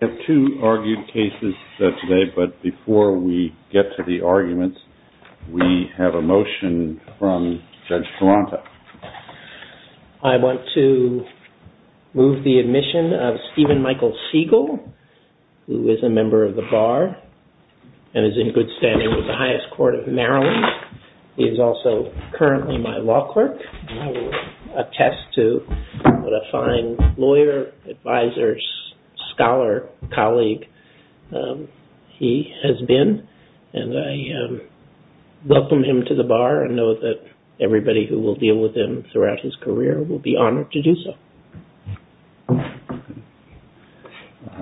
We have two argued cases today, but before we get to the arguments, we have a motion from Judge Taranto. I want to move the admission of Stephen Michael Siegel, who is a member of the Bar and is in good standing with the highest court of Maryland. He is also currently my law clerk, and I will attest to what a fine lawyer, advisor, scholar, colleague he has been. And I welcome him to the Bar and know that everybody who will deal with him throughout his career will be honored to do so.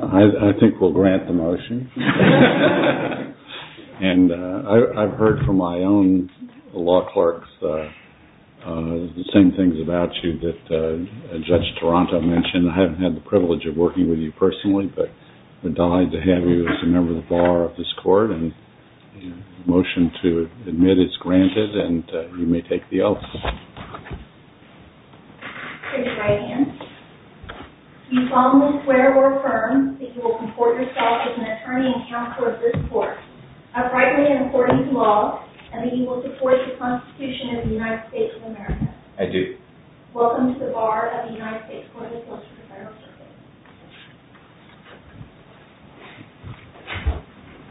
I think we'll grant the motion. And I've heard from my own law clerks the same things about you that Judge Taranto mentioned. I haven't had the privilege of working with you personally, but I'm delighted to have you as a member of the Bar of this court. And the motion to admit is granted, and you may take the oath. I take the right hand. Do you solemnly swear or affirm that you will comport yourself as an attorney and counsel of this court, uprightly and according to law, and that you will support the Constitution of the United States of America? I do. Welcome to the Bar of the United States Court of Appeals for the Federal Circuit.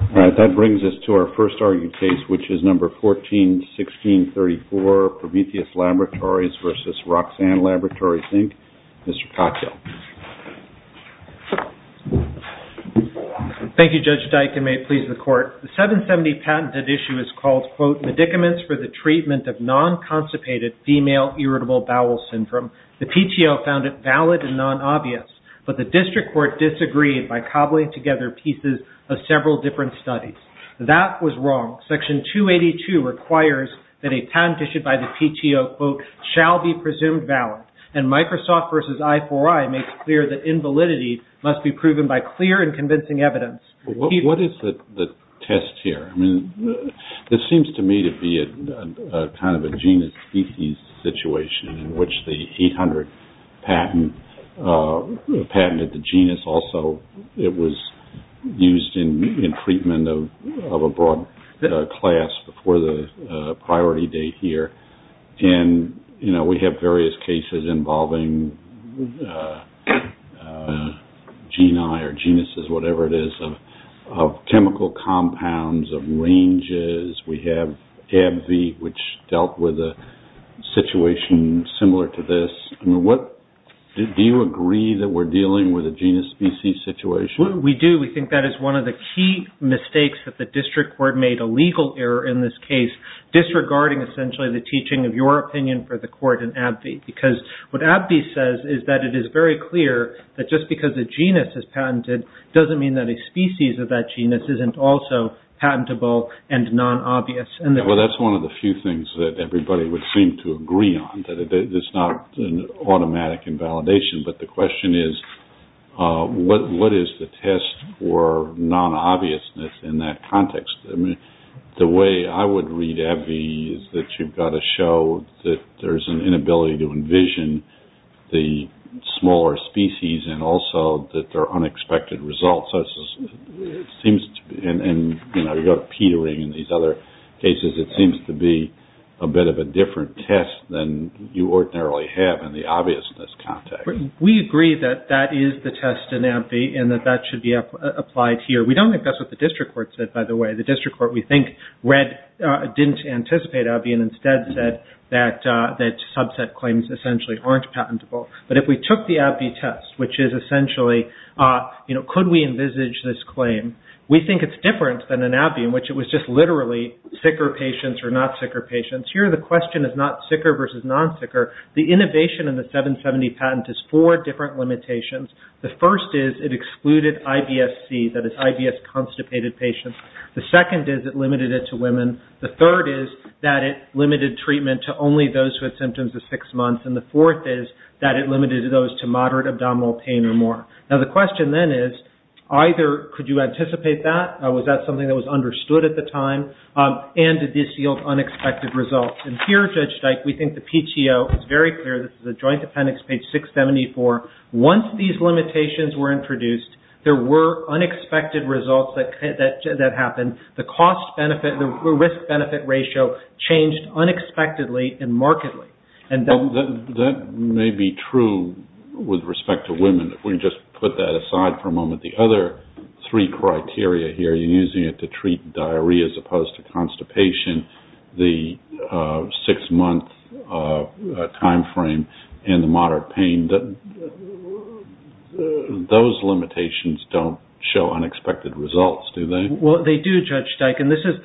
All right. That brings us to our first argued case, which is number 141634, Prometheus Laboratories versus Roxanne Laboratories, Inc. Mr. Katyal. Thank you, Judge Dike, and may it please the court. What is the test here? This seems to me to be kind of a genus-species situation in which the 800 patent patented the genus. Also, it was used in treatment of a broad class before the priority date here. We have various cases involving geni or genuses, whatever it is, of chemical compounds, of ranges. We have AbbVie, which dealt with a situation similar to this. Do you agree that we're dealing with a genus-species situation? We do. We think that is one of the key mistakes that the district court made, a legal error in this case, disregarding essentially the teaching of your opinion for the court in AbbVie, because what AbbVie says is that it is very clear that just because a genus is patented doesn't mean that a species of that genus isn't also patentable and non-obvious. Well, that's one of the few things that everybody would seem to agree on, that it's not an automatic invalidation. But the question is, what is the test for non-obviousness in that context? I mean, the way I would read AbbVie is that you've got to show that there's an inability to envision the smaller species and also that there are unexpected results. And, you know, you've got petering in these other cases. It seems to be a bit of a different test than you ordinarily have in the obviousness context. We agree that that is the test in AbbVie and that that should be applied here. We don't think that's what the district court said, by the way. The district court, we think, didn't anticipate AbbVie and instead said that subset claims essentially aren't patentable. But if we took the AbbVie test, which is essentially, you know, could we envisage this claim, we think it's different than an AbbVie in which it was just literally sicker patients or not sicker patients. Here the question is not sicker versus non-sicker. The innovation in the 770 patent is four different limitations. The first is it excluded IBS-C, that is IBS constipated patients. The second is it limited it to women. The third is that it limited treatment to only those who had symptoms of six months. And the fourth is that it limited it to those to moderate abdominal pain or more. Now the question then is either could you anticipate that? Was that something that was understood at the time? And did this yield unexpected results? And here, Judge Dyke, we think the PTO is very clear. This is a joint appendix, page 674. Once these limitations were introduced, there were unexpected results that happened. The cost-benefit, the risk-benefit ratio changed unexpectedly and markedly. That may be true with respect to women. If we can just put that aside for a moment. The other three criteria here, you're using it to treat diarrhea as opposed to constipation, the six-month time frame, and the moderate pain. Those limitations don't show unexpected results, do they? Well, they do, Judge Dyke. And this is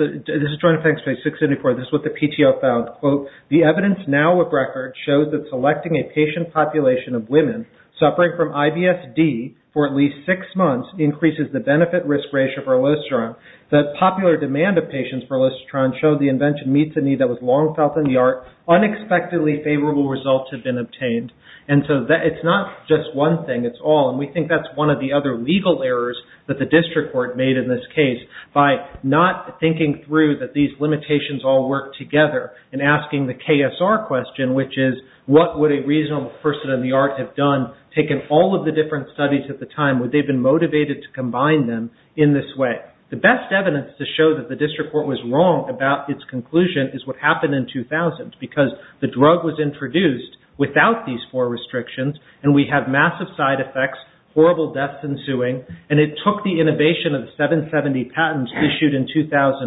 joint appendix, page 674. This is what the PTO found. Quote, the evidence now of record shows that selecting a patient population of women suffering from IBS-D for at least six months increases the benefit-risk ratio for elistatron. The popular demand of patients for elistatron showed the invention meets a need that was long felt in the art. Unexpectedly favorable results have been obtained. And so it's not just one thing. It's all. And we think that's one of the other legal errors that the district court made in this case by not thinking through that these limitations all work together and asking the KSR question, which is what would a reasonable person in the art have done, taken all of the different studies at the time, would they have been motivated to combine them in this way? The best evidence to show that the district court was wrong about its conclusion is what happened in 2000 because the drug was introduced without these four restrictions, and we have massive side effects, horrible deaths ensuing, and it took the innovation of the 770 patents issued in 2001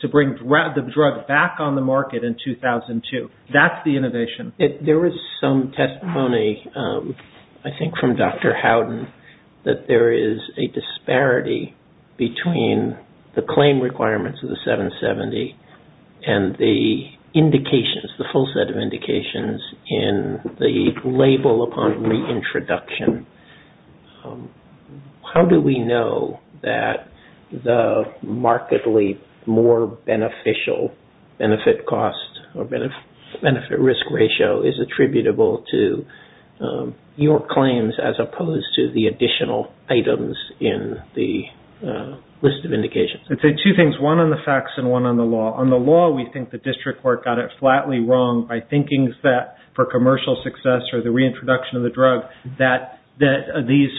to bring the drug back on the market in 2002. That's the innovation. There was some testimony, I think from Dr. Howden, that there is a disparity between the claim requirements of the 770 and the indications, the full set of indications in the label upon the introduction. How do we know that the markedly more beneficial benefit cost or benefit-risk ratio is attributable to your claims as opposed to the additional items in the list of indications? I'd say two things, one on the facts and one on the law. On the law, we think the district court got it flatly wrong by thinking that for commercial success or the reintroduction of the drug that the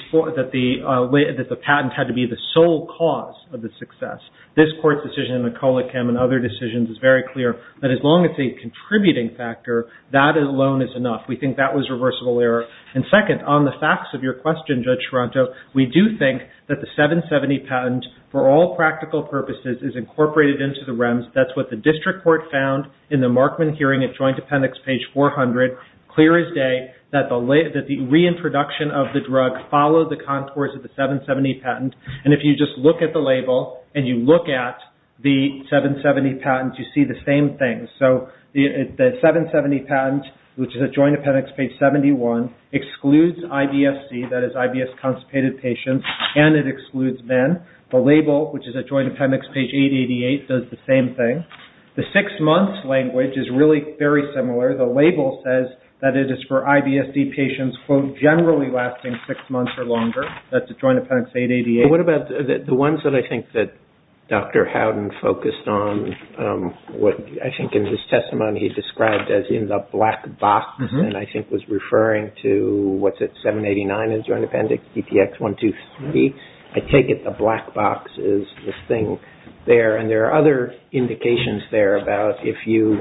patent had to be the sole cause of the success. This court's decision in the Colichem and other decisions is very clear that as long as it's a contributing factor, that alone is enough. We think that was reversible error. And second, on the facts of your question, Judge Taranto, we do think that the 770 patent for all practical purposes is incorporated into the REMS. That's what the district court found in the Markman hearing at Joint Appendix, page 400, clear as day that the reintroduction of the drug followed the contours of the 770 patent. And if you just look at the label and you look at the 770 patent, you see the same thing. So the 770 patent, which is at Joint Appendix, page 71, excludes IBSC, that is IBS-consummated patients, and it excludes men. The label, which is at Joint Appendix, page 888, does the same thing. The six-months language is really very similar. The label says that it is for IBSC patients, quote, generally lasting six months or longer. That's at Joint Appendix, 888. What about the ones that I think that Dr. Howden focused on, what I think in his testimony he described as in the black box and I think was referring to, what's it, 789 in Joint Appendix, DTX-123? I take it the black box is this thing there. And there are other indications there about if you,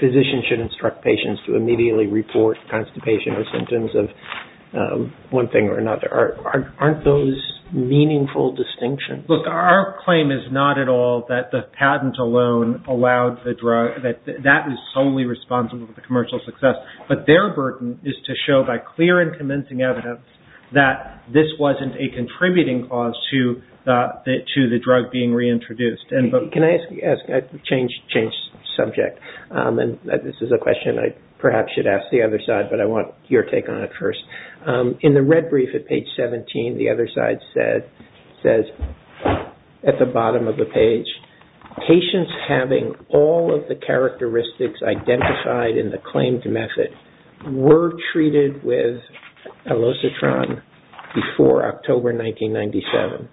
physicians should instruct patients to immediately report constipation or symptoms of one thing or another. Aren't those meaningful distinctions? Look, our claim is not at all that the patent alone allowed the drug, that that is solely responsible for the commercial success. But their burden is to show by clear and convincing evidence that this wasn't a contributing cause to the drug being reintroduced. Can I change subject? This is a question I perhaps should ask the other side, but I want your take on it first. In the red brief at page 17, the other side says, at the bottom of the page, patients having all of the characteristics identified in the claimed method were treated with elocitron before October 1997.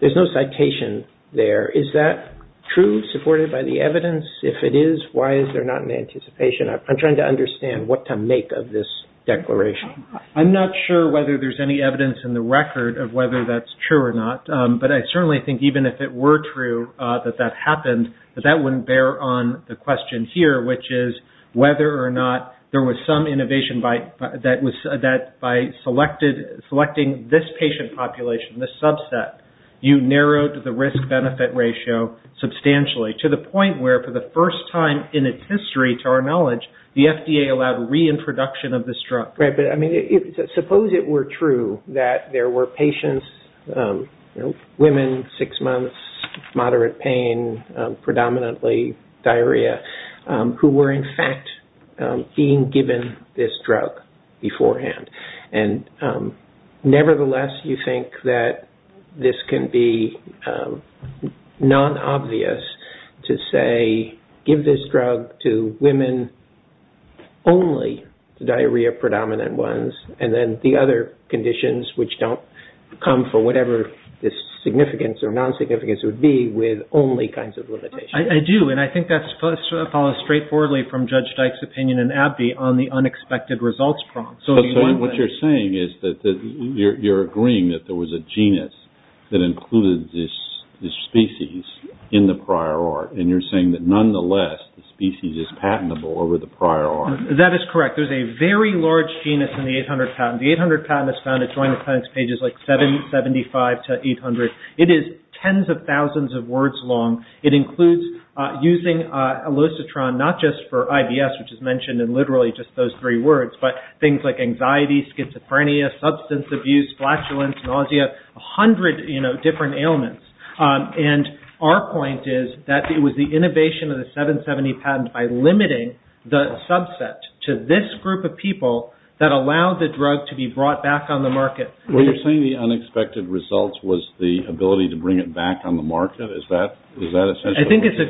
There's no citation there. Is that true, supported by the evidence? If it is, why is there not an anticipation? I'm trying to understand what to make of this declaration. I'm not sure whether there's any evidence in the record of whether that's true or not. But I certainly think even if it were true that that happened, that that wouldn't bear on the question here, which is whether or not there was some innovation that by selecting this patient population, this subset, you narrowed the risk-benefit ratio substantially to the point where, for the first time in its history, to our knowledge, the FDA allowed reintroduction of this drug. Suppose it were true that there were patients, women, six months, moderate pain, predominantly diarrhea, who were in fact being given this drug beforehand. Nevertheless, you think that this can be non-obvious to say, give this drug to women only, the diarrhea-predominant ones, and then the other conditions, which don't come for whatever the significance or non-significance would be, with only kinds of limitations. I do, and I think that follows straightforwardly from Judge Dyke's opinion in Abbey on the unexpected results prompt. So what you're saying is that you're agreeing that there was a genus that included this species in the prior art, and you're saying that nonetheless, the species is patentable over the prior art. That is correct. There's a very large genus in the 800 patent. The 800 patent is found at Joint Appendix pages 775 to 800. It is tens of thousands of words long. It includes using elocitron, not just for IBS, which is mentioned in literally just those three words, but things like anxiety, schizophrenia, substance abuse, flatulence, nausea, a hundred different ailments. And our point is that it was the innovation of the 770 patent by limiting the subset to this group of people that allowed the drug to be brought back on the market. What you're saying, the unexpected results was the ability to bring it back on the market? Is that essentially what you're saying? I think it's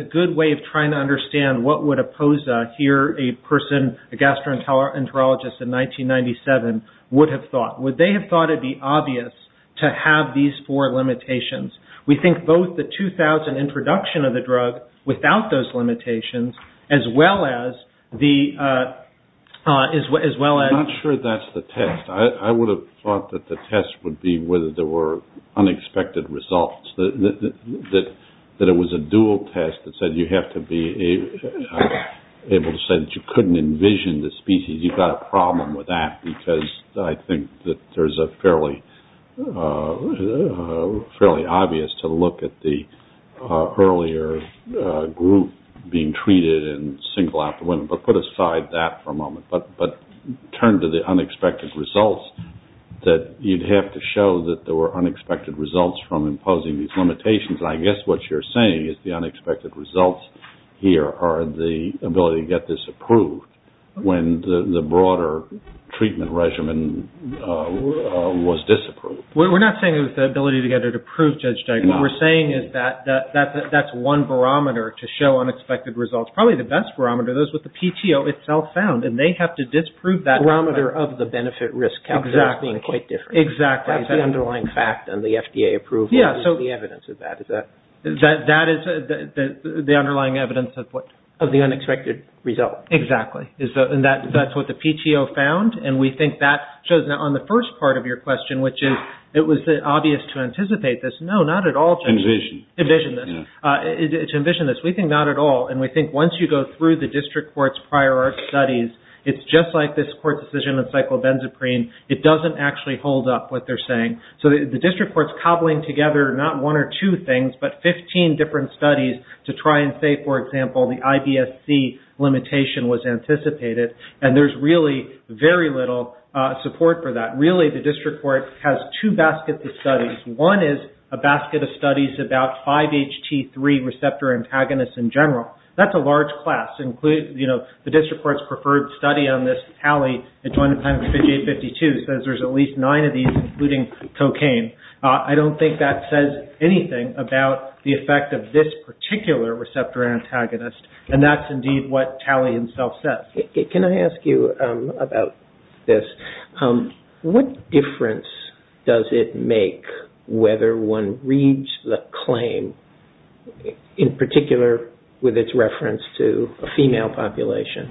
a good way of trying to understand what would a POSA here, a person, a gastroenterologist in 1997, would have thought. Would they have thought it would be obvious to have these four limitations? We think both the 2000 introduction of the drug, without those limitations, as well as the... I'm not sure that's the test. I would have thought that the test would be whether there were unexpected results, that it was a dual test that said you have to be able to say that you couldn't envision the species. You've got a problem with that because I think that there's a fairly obvious to look at the earlier group being treated and single out the women. But put aside that for a moment. But turn to the unexpected results, that you'd have to show that there were unexpected results from imposing these limitations. I guess what you're saying is the unexpected results here are the ability to get this approved. When the broader treatment regimen was disapproved. We're not saying it was the ability to get it approved, Judge Duggan. What we're saying is that that's one barometer to show unexpected results. Probably the best barometer, those with the PTO itself found, and they have to disprove that. The barometer of the benefit-risk factor is being quite different. Exactly. That's the underlying fact and the FDA approval is the evidence of that. That is the underlying evidence of what? Of the unexpected result. Exactly. And that's what the PTO found. And we think that shows on the first part of your question, which is it was obvious to anticipate this. No, not at all, Judge. Envision. Envision this. To envision this. We think not at all. And we think once you go through the district court's prior studies, it's just like this court's decision on cyclobenzaprine. It doesn't actually hold up what they're saying. So the district court's cobbling together not one or two things, but 15 different studies to try and say, for example, the IBSC limitation was anticipated. And there's really very little support for that. Really, the district court has two baskets of studies. One is a basket of studies about 5-HT3 receptor antagonists in general. That's a large class. The district court's preferred study on this tally, it's 1 times 5852, says there's at least nine of these, including cocaine. I don't think that says anything about the effect of this particular receptor antagonist, and that's indeed what tally itself says. Can I ask you about this? What difference does it make whether one reads the claim, in particular with its reference to a female population,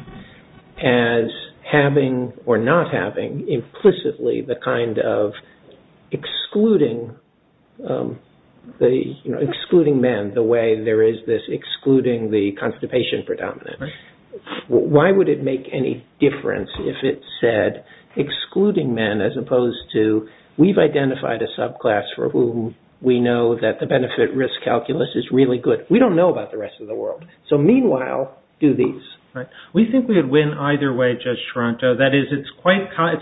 as having or not having implicitly the kind of excluding men, the way there is this excluding the constipation predominant? Why would it make any difference if it said excluding men as opposed to, we've identified a subclass for whom we know that the benefit-risk calculus is really good. We don't know about the rest of the world. Meanwhile, do these. We think we would win either way, Judge Toronto. That is, it's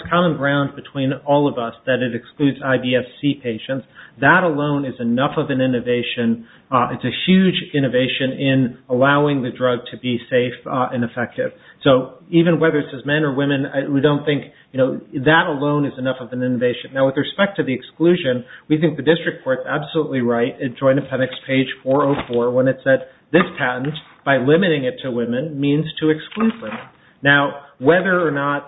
common ground between all of us that it excludes IBSC patients. That alone is enough of an innovation. It's a huge innovation in allowing the drug to be safe and effective. Even whether it says men or women, we don't think that alone is enough of an innovation. With respect to the exclusion, we think the district court is absolutely right. It joined Appendix page 404 when it said, this patent, by limiting it to women, means to exclude women. Now, whether or not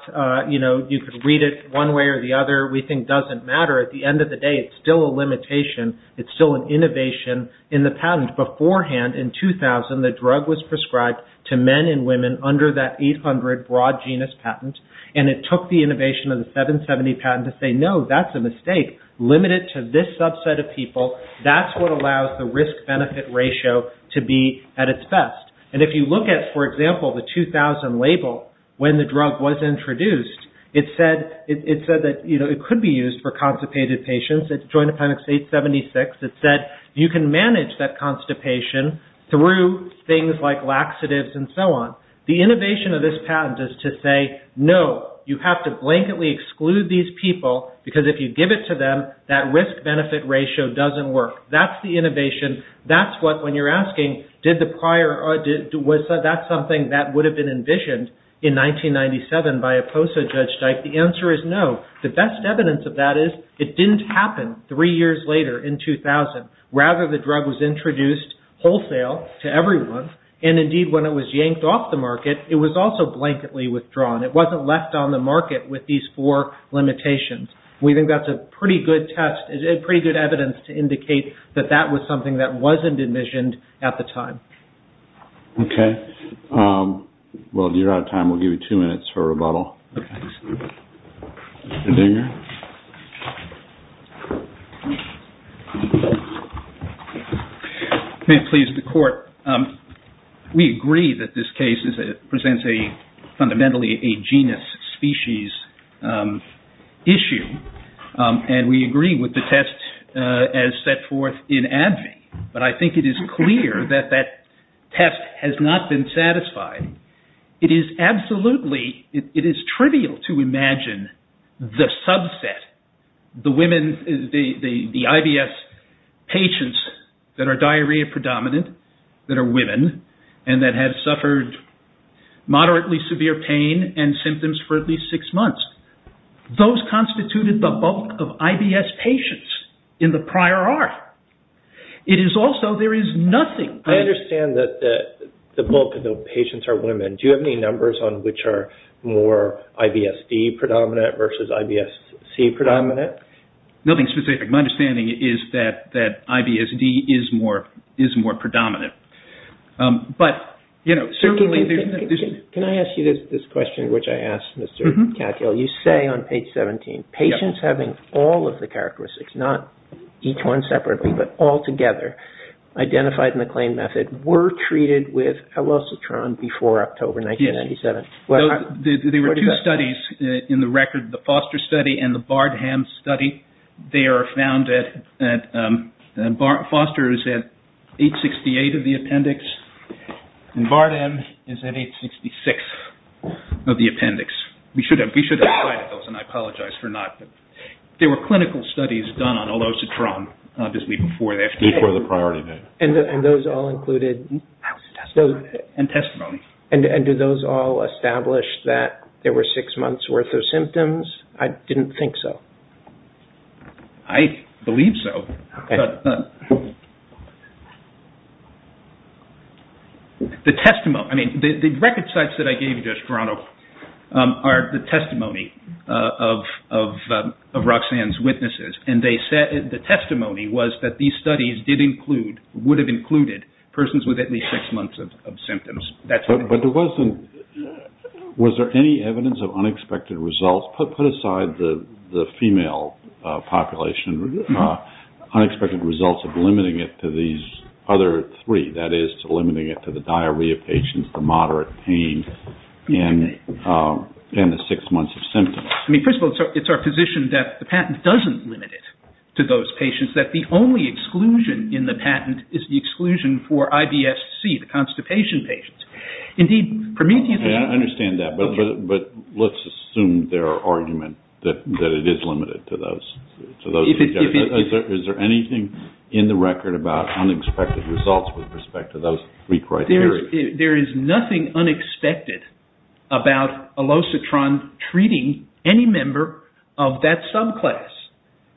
you could read it one way or the other, we think doesn't matter. At the end of the day, it's still a limitation. It's still an innovation in the patent. Beforehand, in 2000, the drug was prescribed to men and women under that 800 broad genus patent, and it took the innovation of the 770 patent to say, no, that's a mistake. Limit it to this subset of people. That's what allows the risk-benefit ratio to be at its best. And if you look at, for example, the 2000 label, when the drug was introduced, it said that it could be used for constipated patients. It's joined Appendix 876. It said you can manage that constipation through things like laxatives and so on. The innovation of this patent is to say, no, you have to blanketly exclude these people, because if you give it to them, that risk-benefit ratio doesn't work. That's the innovation. That's what, when you're asking, was that something that would have been envisioned in 1997 by a POSA judge, the answer is no. The best evidence of that is it didn't happen three years later in 2000. Rather, the drug was introduced wholesale to everyone, and indeed when it was yanked off the market, it was also blanketly withdrawn. It wasn't left on the market with these four limitations. We think that's a pretty good test, pretty good evidence to indicate that that was something that wasn't envisioned at the time. Okay. Well, you're out of time. We'll give you two minutes for rebuttal. Okay. Mr. Dinger? May it please the Court? We agree that this case presents fundamentally a genus-species issue, and we agree with the test as set forth in ADVI, but I think it is clear that that test has not been satisfied. It is trivial to imagine the subset, the IBS patients that are diarrhea-predominant, that are women, and that have suffered moderately severe pain and symptoms for at least six months. Those constituted the bulk of IBS patients in the prior arc. It is also, there is nothing... I understand that the bulk of the patients are women. Do you have any numbers on which are more IBSD-predominant versus IBSC-predominant? Nothing specific. My understanding is that IBSD is more predominant. But, you know, certainly there's... Can I ask you this question, which I asked Mr. Katyal? You say on page 17, patients having all of the characteristics, not each one separately, but all together, identified in the claim method, were treated with elocitron before October 1997. There were two studies in the record, the Foster study and the Bardham study. They are found at... Foster is at 868 of the appendix, and Bardham is at 866 of the appendix. We should have cited those, and I apologize for not. There were clinical studies done on elocitron, obviously before the FDA. Before the priority date. And those all included... And testimony. And did those all establish that there were six months' worth of symptoms? I didn't think so. I believe so. Okay. The testimony... I mean, the record sites that I gave you just, Ronald, are the testimony of Roxanne's witnesses, and the testimony was that these studies did include, would have included, persons with at least six months of symptoms. But there wasn't... Was there any evidence of unexpected results? Put aside the female population. Unexpected results of limiting it to these other three. That is, limiting it to the diarrhea patients, the moderate pain, and the six months of symptoms. I mean, first of all, it's our position that the patent doesn't limit it to those patients, that the only exclusion in the patent is the exclusion for IBSC, the constipation patients. Indeed, Prometheus... I understand that, but let's assume their argument that it is limited to those... Is there anything in the record about unexpected results with respect to those three criteria? There is nothing unexpected about Elocitron treating any member of that subclass.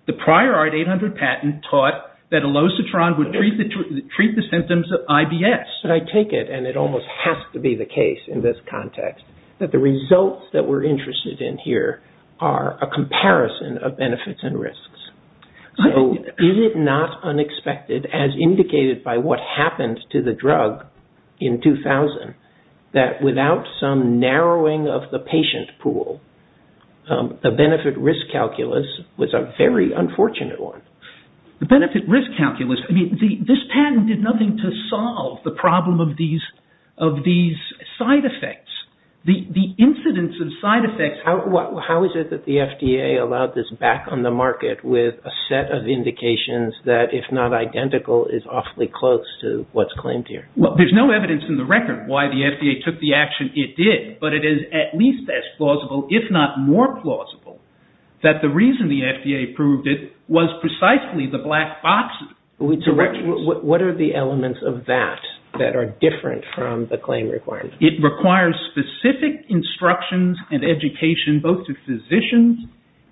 The prior Art 800 patent taught that Elocitron would treat the symptoms of IBS. But I take it, and it almost has to be the case in this context, that the results that we're interested in here are a comparison of benefits and risks. So, is it not unexpected, as indicated by what happened to the drug in 2000, that without some narrowing of the patient pool, the benefit-risk calculus was a very unfortunate one? The benefit-risk calculus... I mean, this patent did nothing to solve the problem of these side effects. The incidence of side effects... How is it that the FDA allowed this back on the market with a set of indications that, if not identical, is awfully close to what's claimed here? Well, there's no evidence in the record why the FDA took the action it did, but it is at least as plausible, if not more plausible, that the reason the FDA approved it was precisely the black box directions. What are the elements of that that are different from the claim requirements? It requires specific instructions and education, both to physicians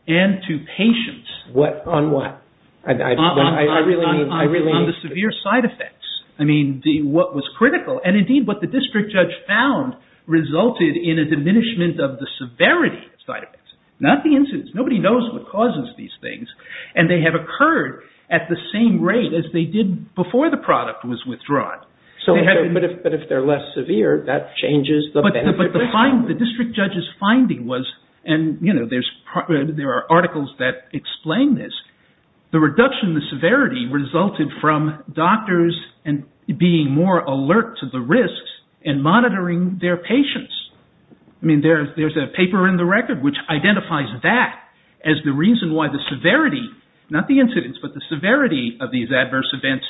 and to patients. On what? On the severe side effects. I mean, what was critical, resulted in a diminishment of the severity of side effects. Not the incidence. Nobody knows what causes these things, and they have occurred at the same rate as they did before the product was withdrawn. But if they're less severe, that changes the benefit-risk. But the district judge's finding was, and there are articles that explain this, the reduction in the severity resulted from doctors being more alert to the risks and monitoring their patients. I mean, there's a paper in the record which identifies that as the reason why the severity, not the incidence, but the severity of these adverse events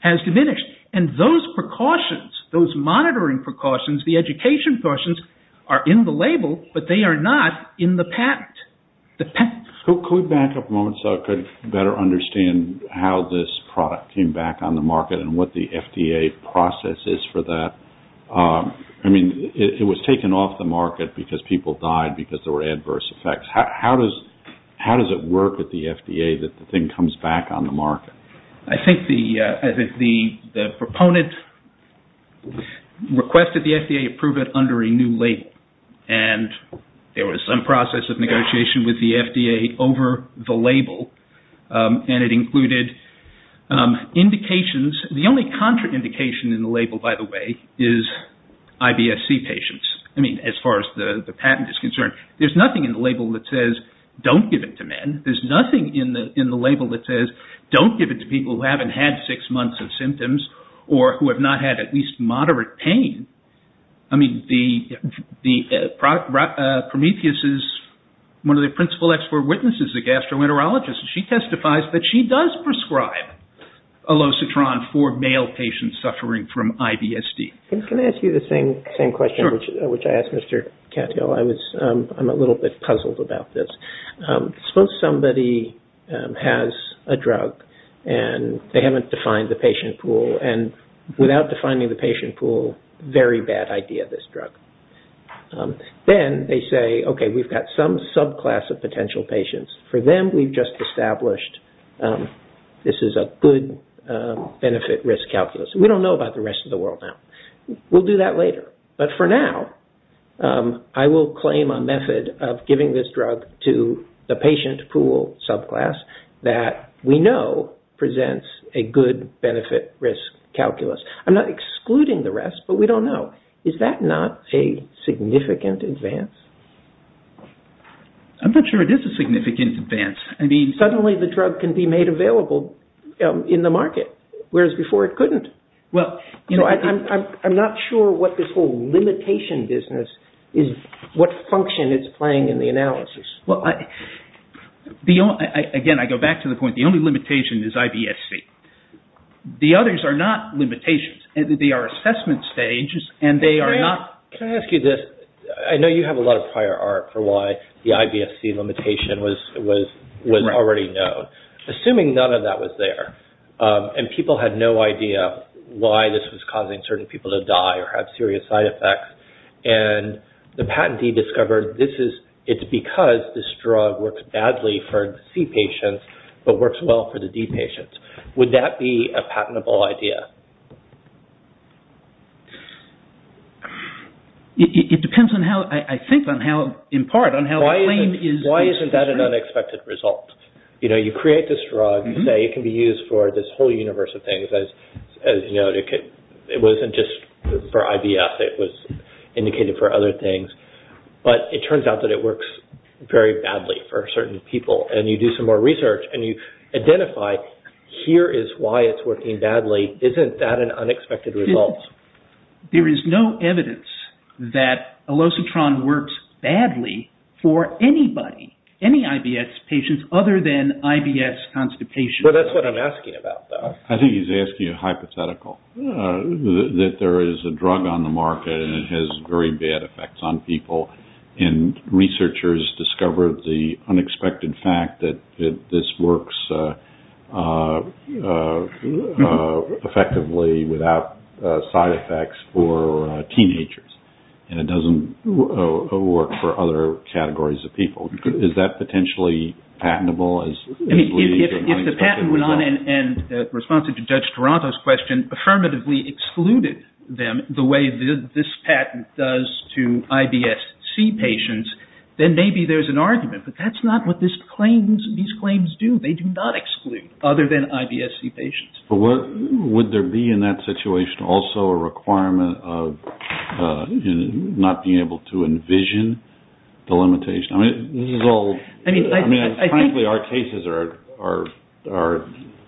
has diminished. And those precautions, those monitoring precautions, the education precautions, are in the label, but they are not in the patent. Could we back up a moment so I could better understand how this product came back on the market and what the FDA process is for that? I mean, it was taken off the market because people died because there were adverse effects. How does it work with the FDA that the thing comes back on the market? I think the proponent requested the FDA approve it under a new label. And there was some process of negotiation with the FDA over the label, and it included indications. The only contraindication in the label, by the way, is IBSC patients. I mean, as far as the patent is concerned, there's nothing in the label that says, don't give it to men. There's nothing in the label that says, don't give it to people who haven't had six months of symptoms or who have not had at least moderate pain. I mean, Prometheus is one of the principal expert witnesses, the gastroenterologist, and she testifies that she does prescribe Olocetron for male patients suffering from IBSD. Can I ask you the same question which I asked Mr. Cattell? I'm a little bit puzzled about this. Suppose somebody has a drug, and they haven't defined the patient pool, and without defining the patient pool, very bad idea, this drug. Then they say, okay, we've got some subclass of potential patients. For them, we've just established this is a good benefit-risk calculus. We don't know about the rest of the world now. We'll do that later, but for now, I will claim a method of giving this drug to the patient pool subclass that we know presents a good benefit-risk calculus. I'm not excluding the rest, but we don't know. Is that not a significant advance? I'm not sure it is a significant advance. Suddenly the drug can be made available in the market, whereas before it couldn't. I'm not sure what this whole limitation business is, what function it's playing in the analysis. Again, I go back to the point, the only limitation is IBSD. The others are not limitations. They are assessment stages, and they are not... Can I ask you this? I know you have a lot of prior art for why the IBSD limitation was already known. Assuming none of that was there, and people had no idea why this was causing certain people to die or have serious side effects, and the patentee discovered it's because this drug works badly for C patients, but works well for the D patients. Would that be a patentable idea? It depends on how... I think in part on how the claim is... Why isn't that an unexpected result? You create this drug, you say it can be used for this whole universe of things. It wasn't just for IBS, it was indicated for other things, but it turns out that it works very badly for certain people. You do some more research, and you identify here is why it's working badly. Isn't that an unexpected result? There is no evidence that elocitron works badly for anybody, any IBS patients, other than IBS constipation. That's what I'm asking about, though. I think he's asking a hypothetical, that there is a drug on the market, and it has very bad effects on people, and researchers discovered the unexpected fact that this works effectively without side effects for teenagers, and it doesn't work for other categories of people. Is that potentially patentable? If the patent went on, and responsive to Judge Toronto's question, affirmatively excluded them the way this patent does to IBSC patients, then maybe there's an argument, but that's not what these claims do. They do not exclude other than IBSC patients. Would there be in that situation also a requirement of not being able to envision the limitation? Frankly, our cases are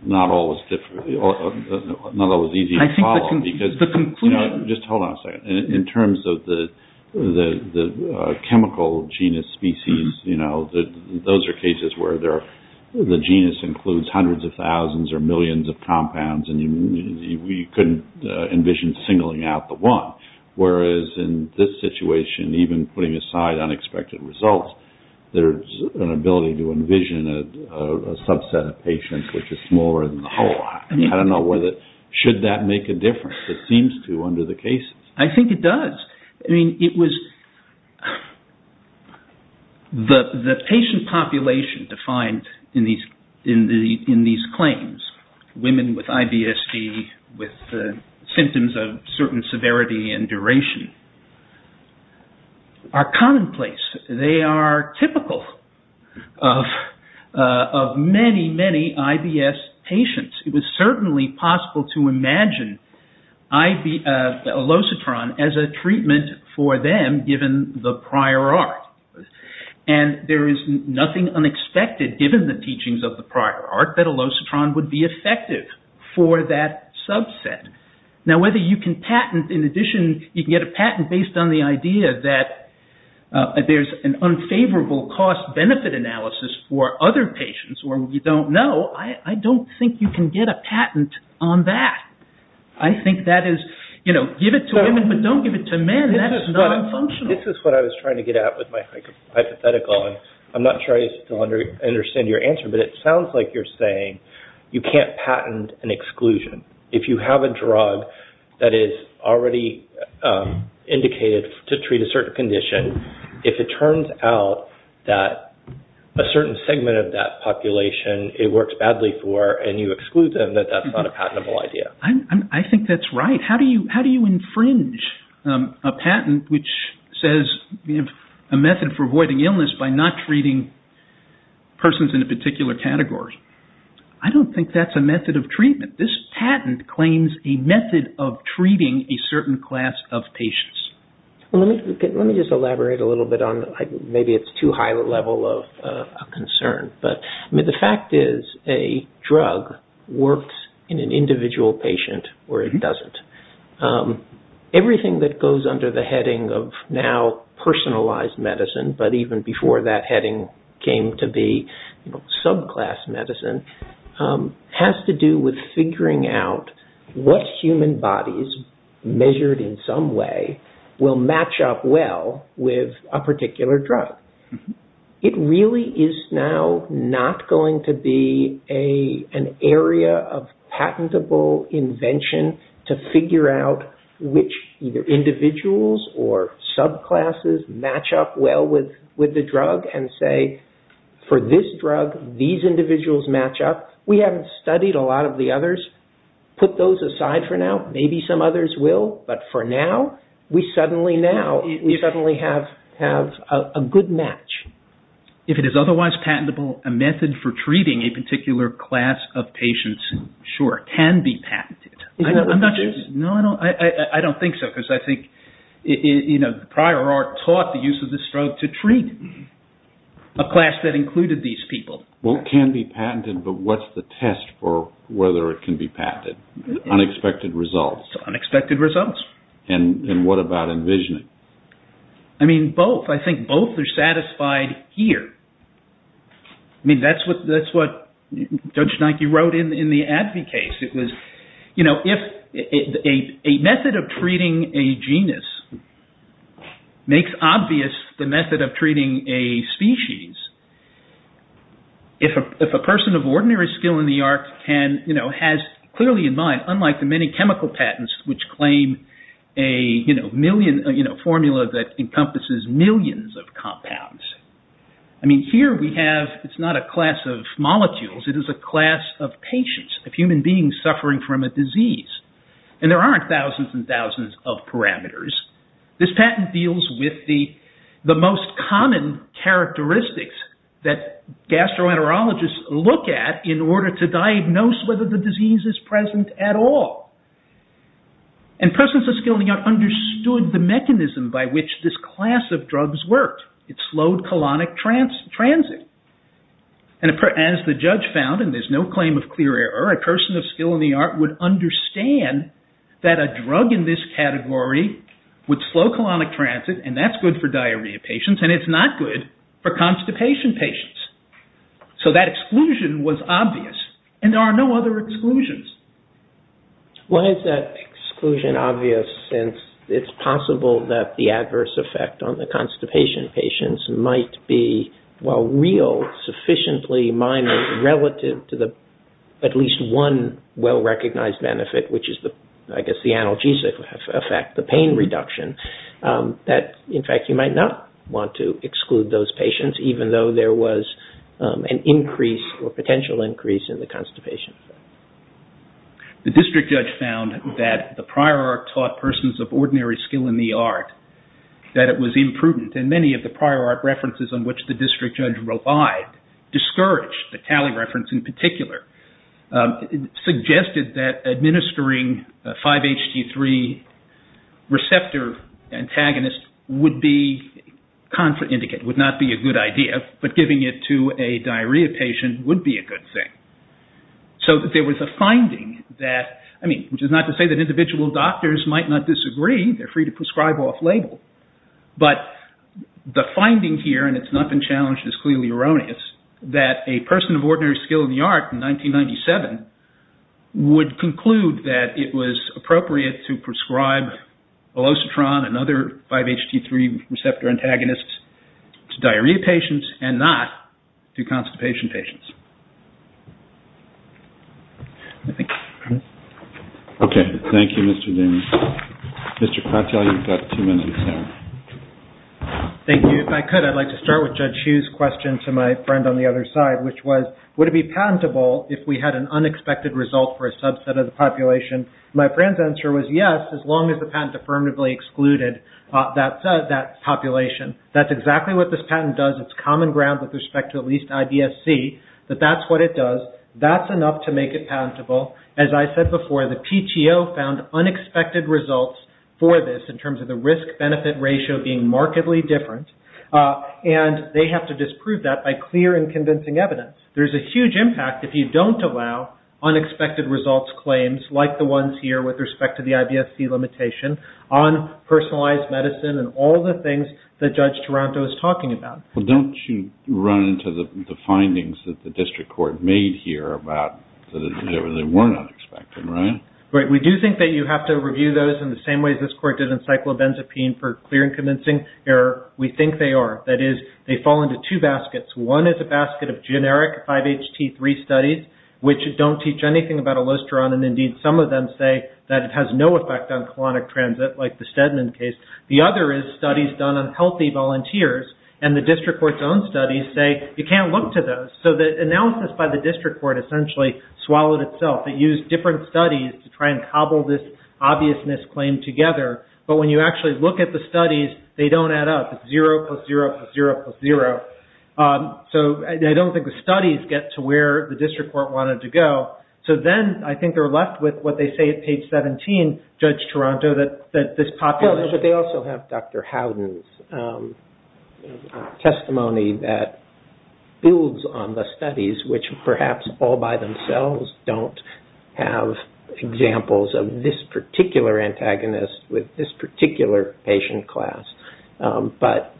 not always easy to follow. Just hold on a second. In terms of the chemical genus species, those are cases where the genus includes hundreds of thousands or millions of compounds, and we couldn't envision singling out the one, whereas in this situation, even putting aside unexpected results, there's an ability to envision a subset of patients which is smaller than the whole. Should that make a difference? It seems to under the cases. I think it does. The patient population defined in these claims, women with IBSC with symptoms of certain severity and duration are commonplace. They are typical of many, many IBS patients. It was certainly possible to imagine elocitron as a treatment for them given the prior art. There is nothing unexpected given the teachings of the prior art that elocitron would be effective for that subset. Now, whether you can patent, in addition, you can get a patent based on the idea that there's an unfavorable cost-benefit analysis for other patients where we don't know, I don't think you can get a patent on that. I think that is, you know, give it to women but don't give it to men. That's not functional. This is what I was trying to get at with my hypothetical. I'm not sure I still understand your answer, but it sounds like you're saying you can't patent an exclusion. If you have a drug that is already indicated to treat a certain condition, if it turns out that a certain segment of that population it works badly for and you exclude them, that that's not a patentable idea. I think that's right. How do you infringe a patent which says a method for avoiding illness by not treating persons in a particular category? I don't think that's a method of treatment. This patent claims a method of treating a certain class of patients. Let me just elaborate a little bit on, maybe it's too high a level of concern, but the fact is a drug works in an individual patient or it doesn't. Everything that goes under the heading of now personalized medicine, but even before that heading came to be subclass medicine, has to do with figuring out what human bodies measured in some way will match up well with a particular drug. It really is now not going to be an area of patentable invention to figure out which individuals or subclasses match up well with the drug and say for this drug, these individuals match up. We haven't studied a lot of the others. Put those aside for now. Maybe some others will, but for now, we suddenly have a good match. If it is otherwise patentable, a method for treating a particular class of patients, sure, can be patented. Is that what this is? No, I don't think so, because I think prior art taught the use of this drug to treat a class that included these people. Well, it can be patented, but what's the test for whether it can be patented? Unexpected results. Unexpected results. And what about envisioning? I mean, both. I think both are satisfied here. That's what Judge Nike wrote in the Advy case. It was, you know, if a method of treating a genus makes obvious the method of treating a species, if a person of ordinary skill in the arts has clearly in mind, unlike the many chemical patents, which claim a formula that encompasses millions of compounds. I mean, here we have, it's not a class of molecules. It is a class of patients, of human beings suffering from a disease. And there aren't thousands and thousands of parameters. This patent deals with the most common characteristics that gastroenterologists look at in order to diagnose whether the disease is present at all. And persons of skill in the art understood the mechanism by which this class of drugs worked. It slowed colonic transit. And as the judge found, and there's no claim of clear error, a person of skill in the art would understand that a drug in this category would slow colonic transit, and that's good for diarrhea patients, and it's not good for constipation patients. So that exclusion was obvious. And there are no other exclusions. Why is that exclusion obvious, since it's possible that the adverse effect on the constipation patients might be, while real, sufficiently minor, relative to at least one well-recognized benefit, which is, I guess, the analgesic effect, the pain reduction, that in fact you might not want to exclude those patients even though there was an increase or potential increase in the constipation. The district judge found that the prior art taught persons of ordinary skill in the art that it was imprudent. And many of the prior art references on which the district judge relied discouraged the Talley reference in particular, suggested that administering a 5-HT3 receptor antagonist would be contraindicate, would not be a good idea, but giving it to a diarrhea patient would be a good thing. So there was a finding that, I mean, which is not to say that individual doctors might not disagree, they're free to prescribe off-label, but the finding here, and it's not been challenged, is clearly erroneous, is that a person of ordinary skill in the art in 1997 would conclude that it was appropriate to prescribe Velocitron and other 5-HT3 receptor antagonists to diarrhea patients and not to constipation patients. Thank you. Okay, thank you, Mr. Damien. Mr. Kratel, you've got two minutes now. Thank you. If I could, I'd like to start with Judge Hughes' question to my friend on the other side, which was, would it be patentable if we had an unexpected result for a subset of the population? My friend's answer was yes, as long as the patent affirmatively excluded that population. That's exactly what this patent does. It's common ground with respect to at least IBSC, that that's what it does. That's enough to make it patentable. As I said before, the PTO found unexpected results for this in terms of the risk-benefit ratio being markedly different, and they have to disprove that by clear and convincing evidence. There's a huge impact if you don't allow unexpected results claims like the ones here with respect to the IBSC limitation on personalized medicine and all the things that Judge Taranto is talking about. Well, don't you run into the findings that the district court made here about that they weren't unexpected, right? Right. We do think that you have to review those in the same way this court did in cyclobenzapine for clear and convincing error. We think they are. That is, they fall into two baskets. One is a basket of generic 5-HT3 studies, which don't teach anything about ilosterone, and indeed some of them say that it has no effect on colonic transit like the Stedman case. The other is studies done on healthy volunteers, and the district court's own studies say you can't look to those. So the analysis by the district court essentially swallowed itself. It used different studies to try and cobble this obvious misclaim together, but when you actually look at the studies, they don't add up. It's 0 plus 0 plus 0 plus 0. So I don't think the studies get to where the district court wanted to go. So then I think they're left with what they say at page 17, Judge Taranto, that this population... No, but they also have Dr. Howden's testimony that builds on the studies, which perhaps all by themselves don't have examples of this particular antagonist with this particular patient class. But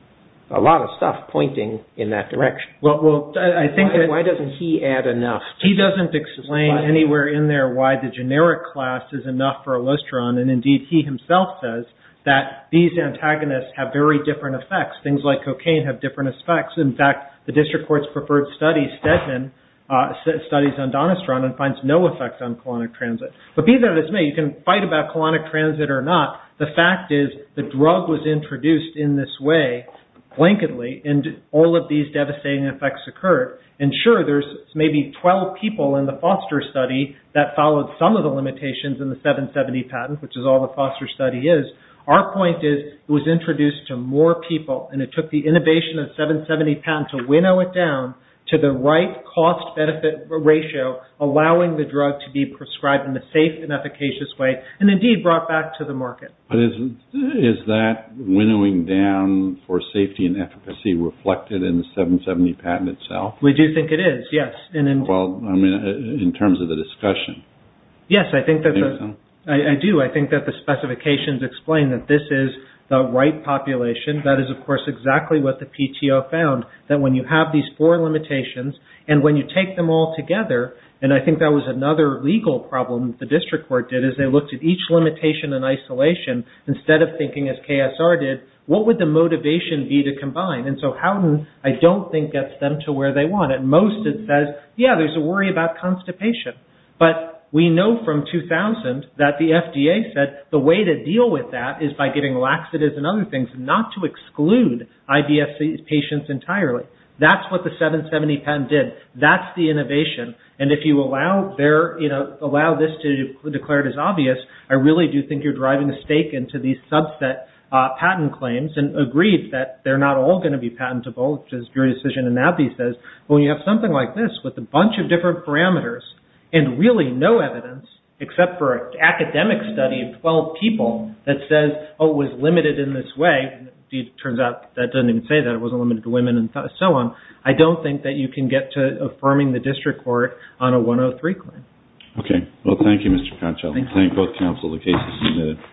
a lot of stuff pointing in that direction. Why doesn't he add enough? He doesn't explain anywhere in there why the generic class is enough for ilosterone, and indeed he himself says that these antagonists have very different effects. Things like cocaine have different effects. In fact, the district court's preferred study, Stedman, studies on donosterone and finds no effects on colonic transit. But be that as it may, you can fight about the fact is the drug was introduced in this way, blankedly, and all of these devastating effects occurred. And sure, there's maybe 12 people in the Foster study that followed some of the limitations in the 770 patent, which is all the Foster study is. Our point is it was introduced to more people, and it took the innovation of the 770 patent to winnow it down to the right cost-benefit ratio, allowing the drug to be prescribed in a safe and efficacious way, and indeed brought back to the market. But is that winnowing down for safety and efficacy reflected in the 770 patent itself? We do think it is, yes. Well, I mean, in terms of the discussion. Yes, I do. I think that the specifications explain that this is the right population. That is, of course, exactly what the PTO found, that when you have these four limitations and when you take them all together, and I think that was another legal problem that the district court did, is they looked at each limitation in isolation instead of thinking, as KSR did, what would the motivation be to combine? And so Houghton, I don't think, gets them to where they want. At most, it says, yeah, there's a worry about constipation. But we know from 2000 that the FDA said the way to deal with that is by giving laxatives and other things, not to exclude IBS patients entirely. That's what the 770 patent did. That's the innovation. And if you allow this to be declared as obvious, I really do think you're driving a stake into these subset patent claims and agreed that they're not all going to be patentable, which is your decision in that. But when you have something like this with a bunch of different parameters and really no evidence, except for an academic study of 12 people, that says, oh, it was limited in this way, and it turns out that doesn't even say that. It wasn't limited to women and so on. I don't think that you can get to affirming the district court on a 103 claim. Okay. Well, thank you, Mr. Conchel. Thank you. Thank both counsel. The case is submitted.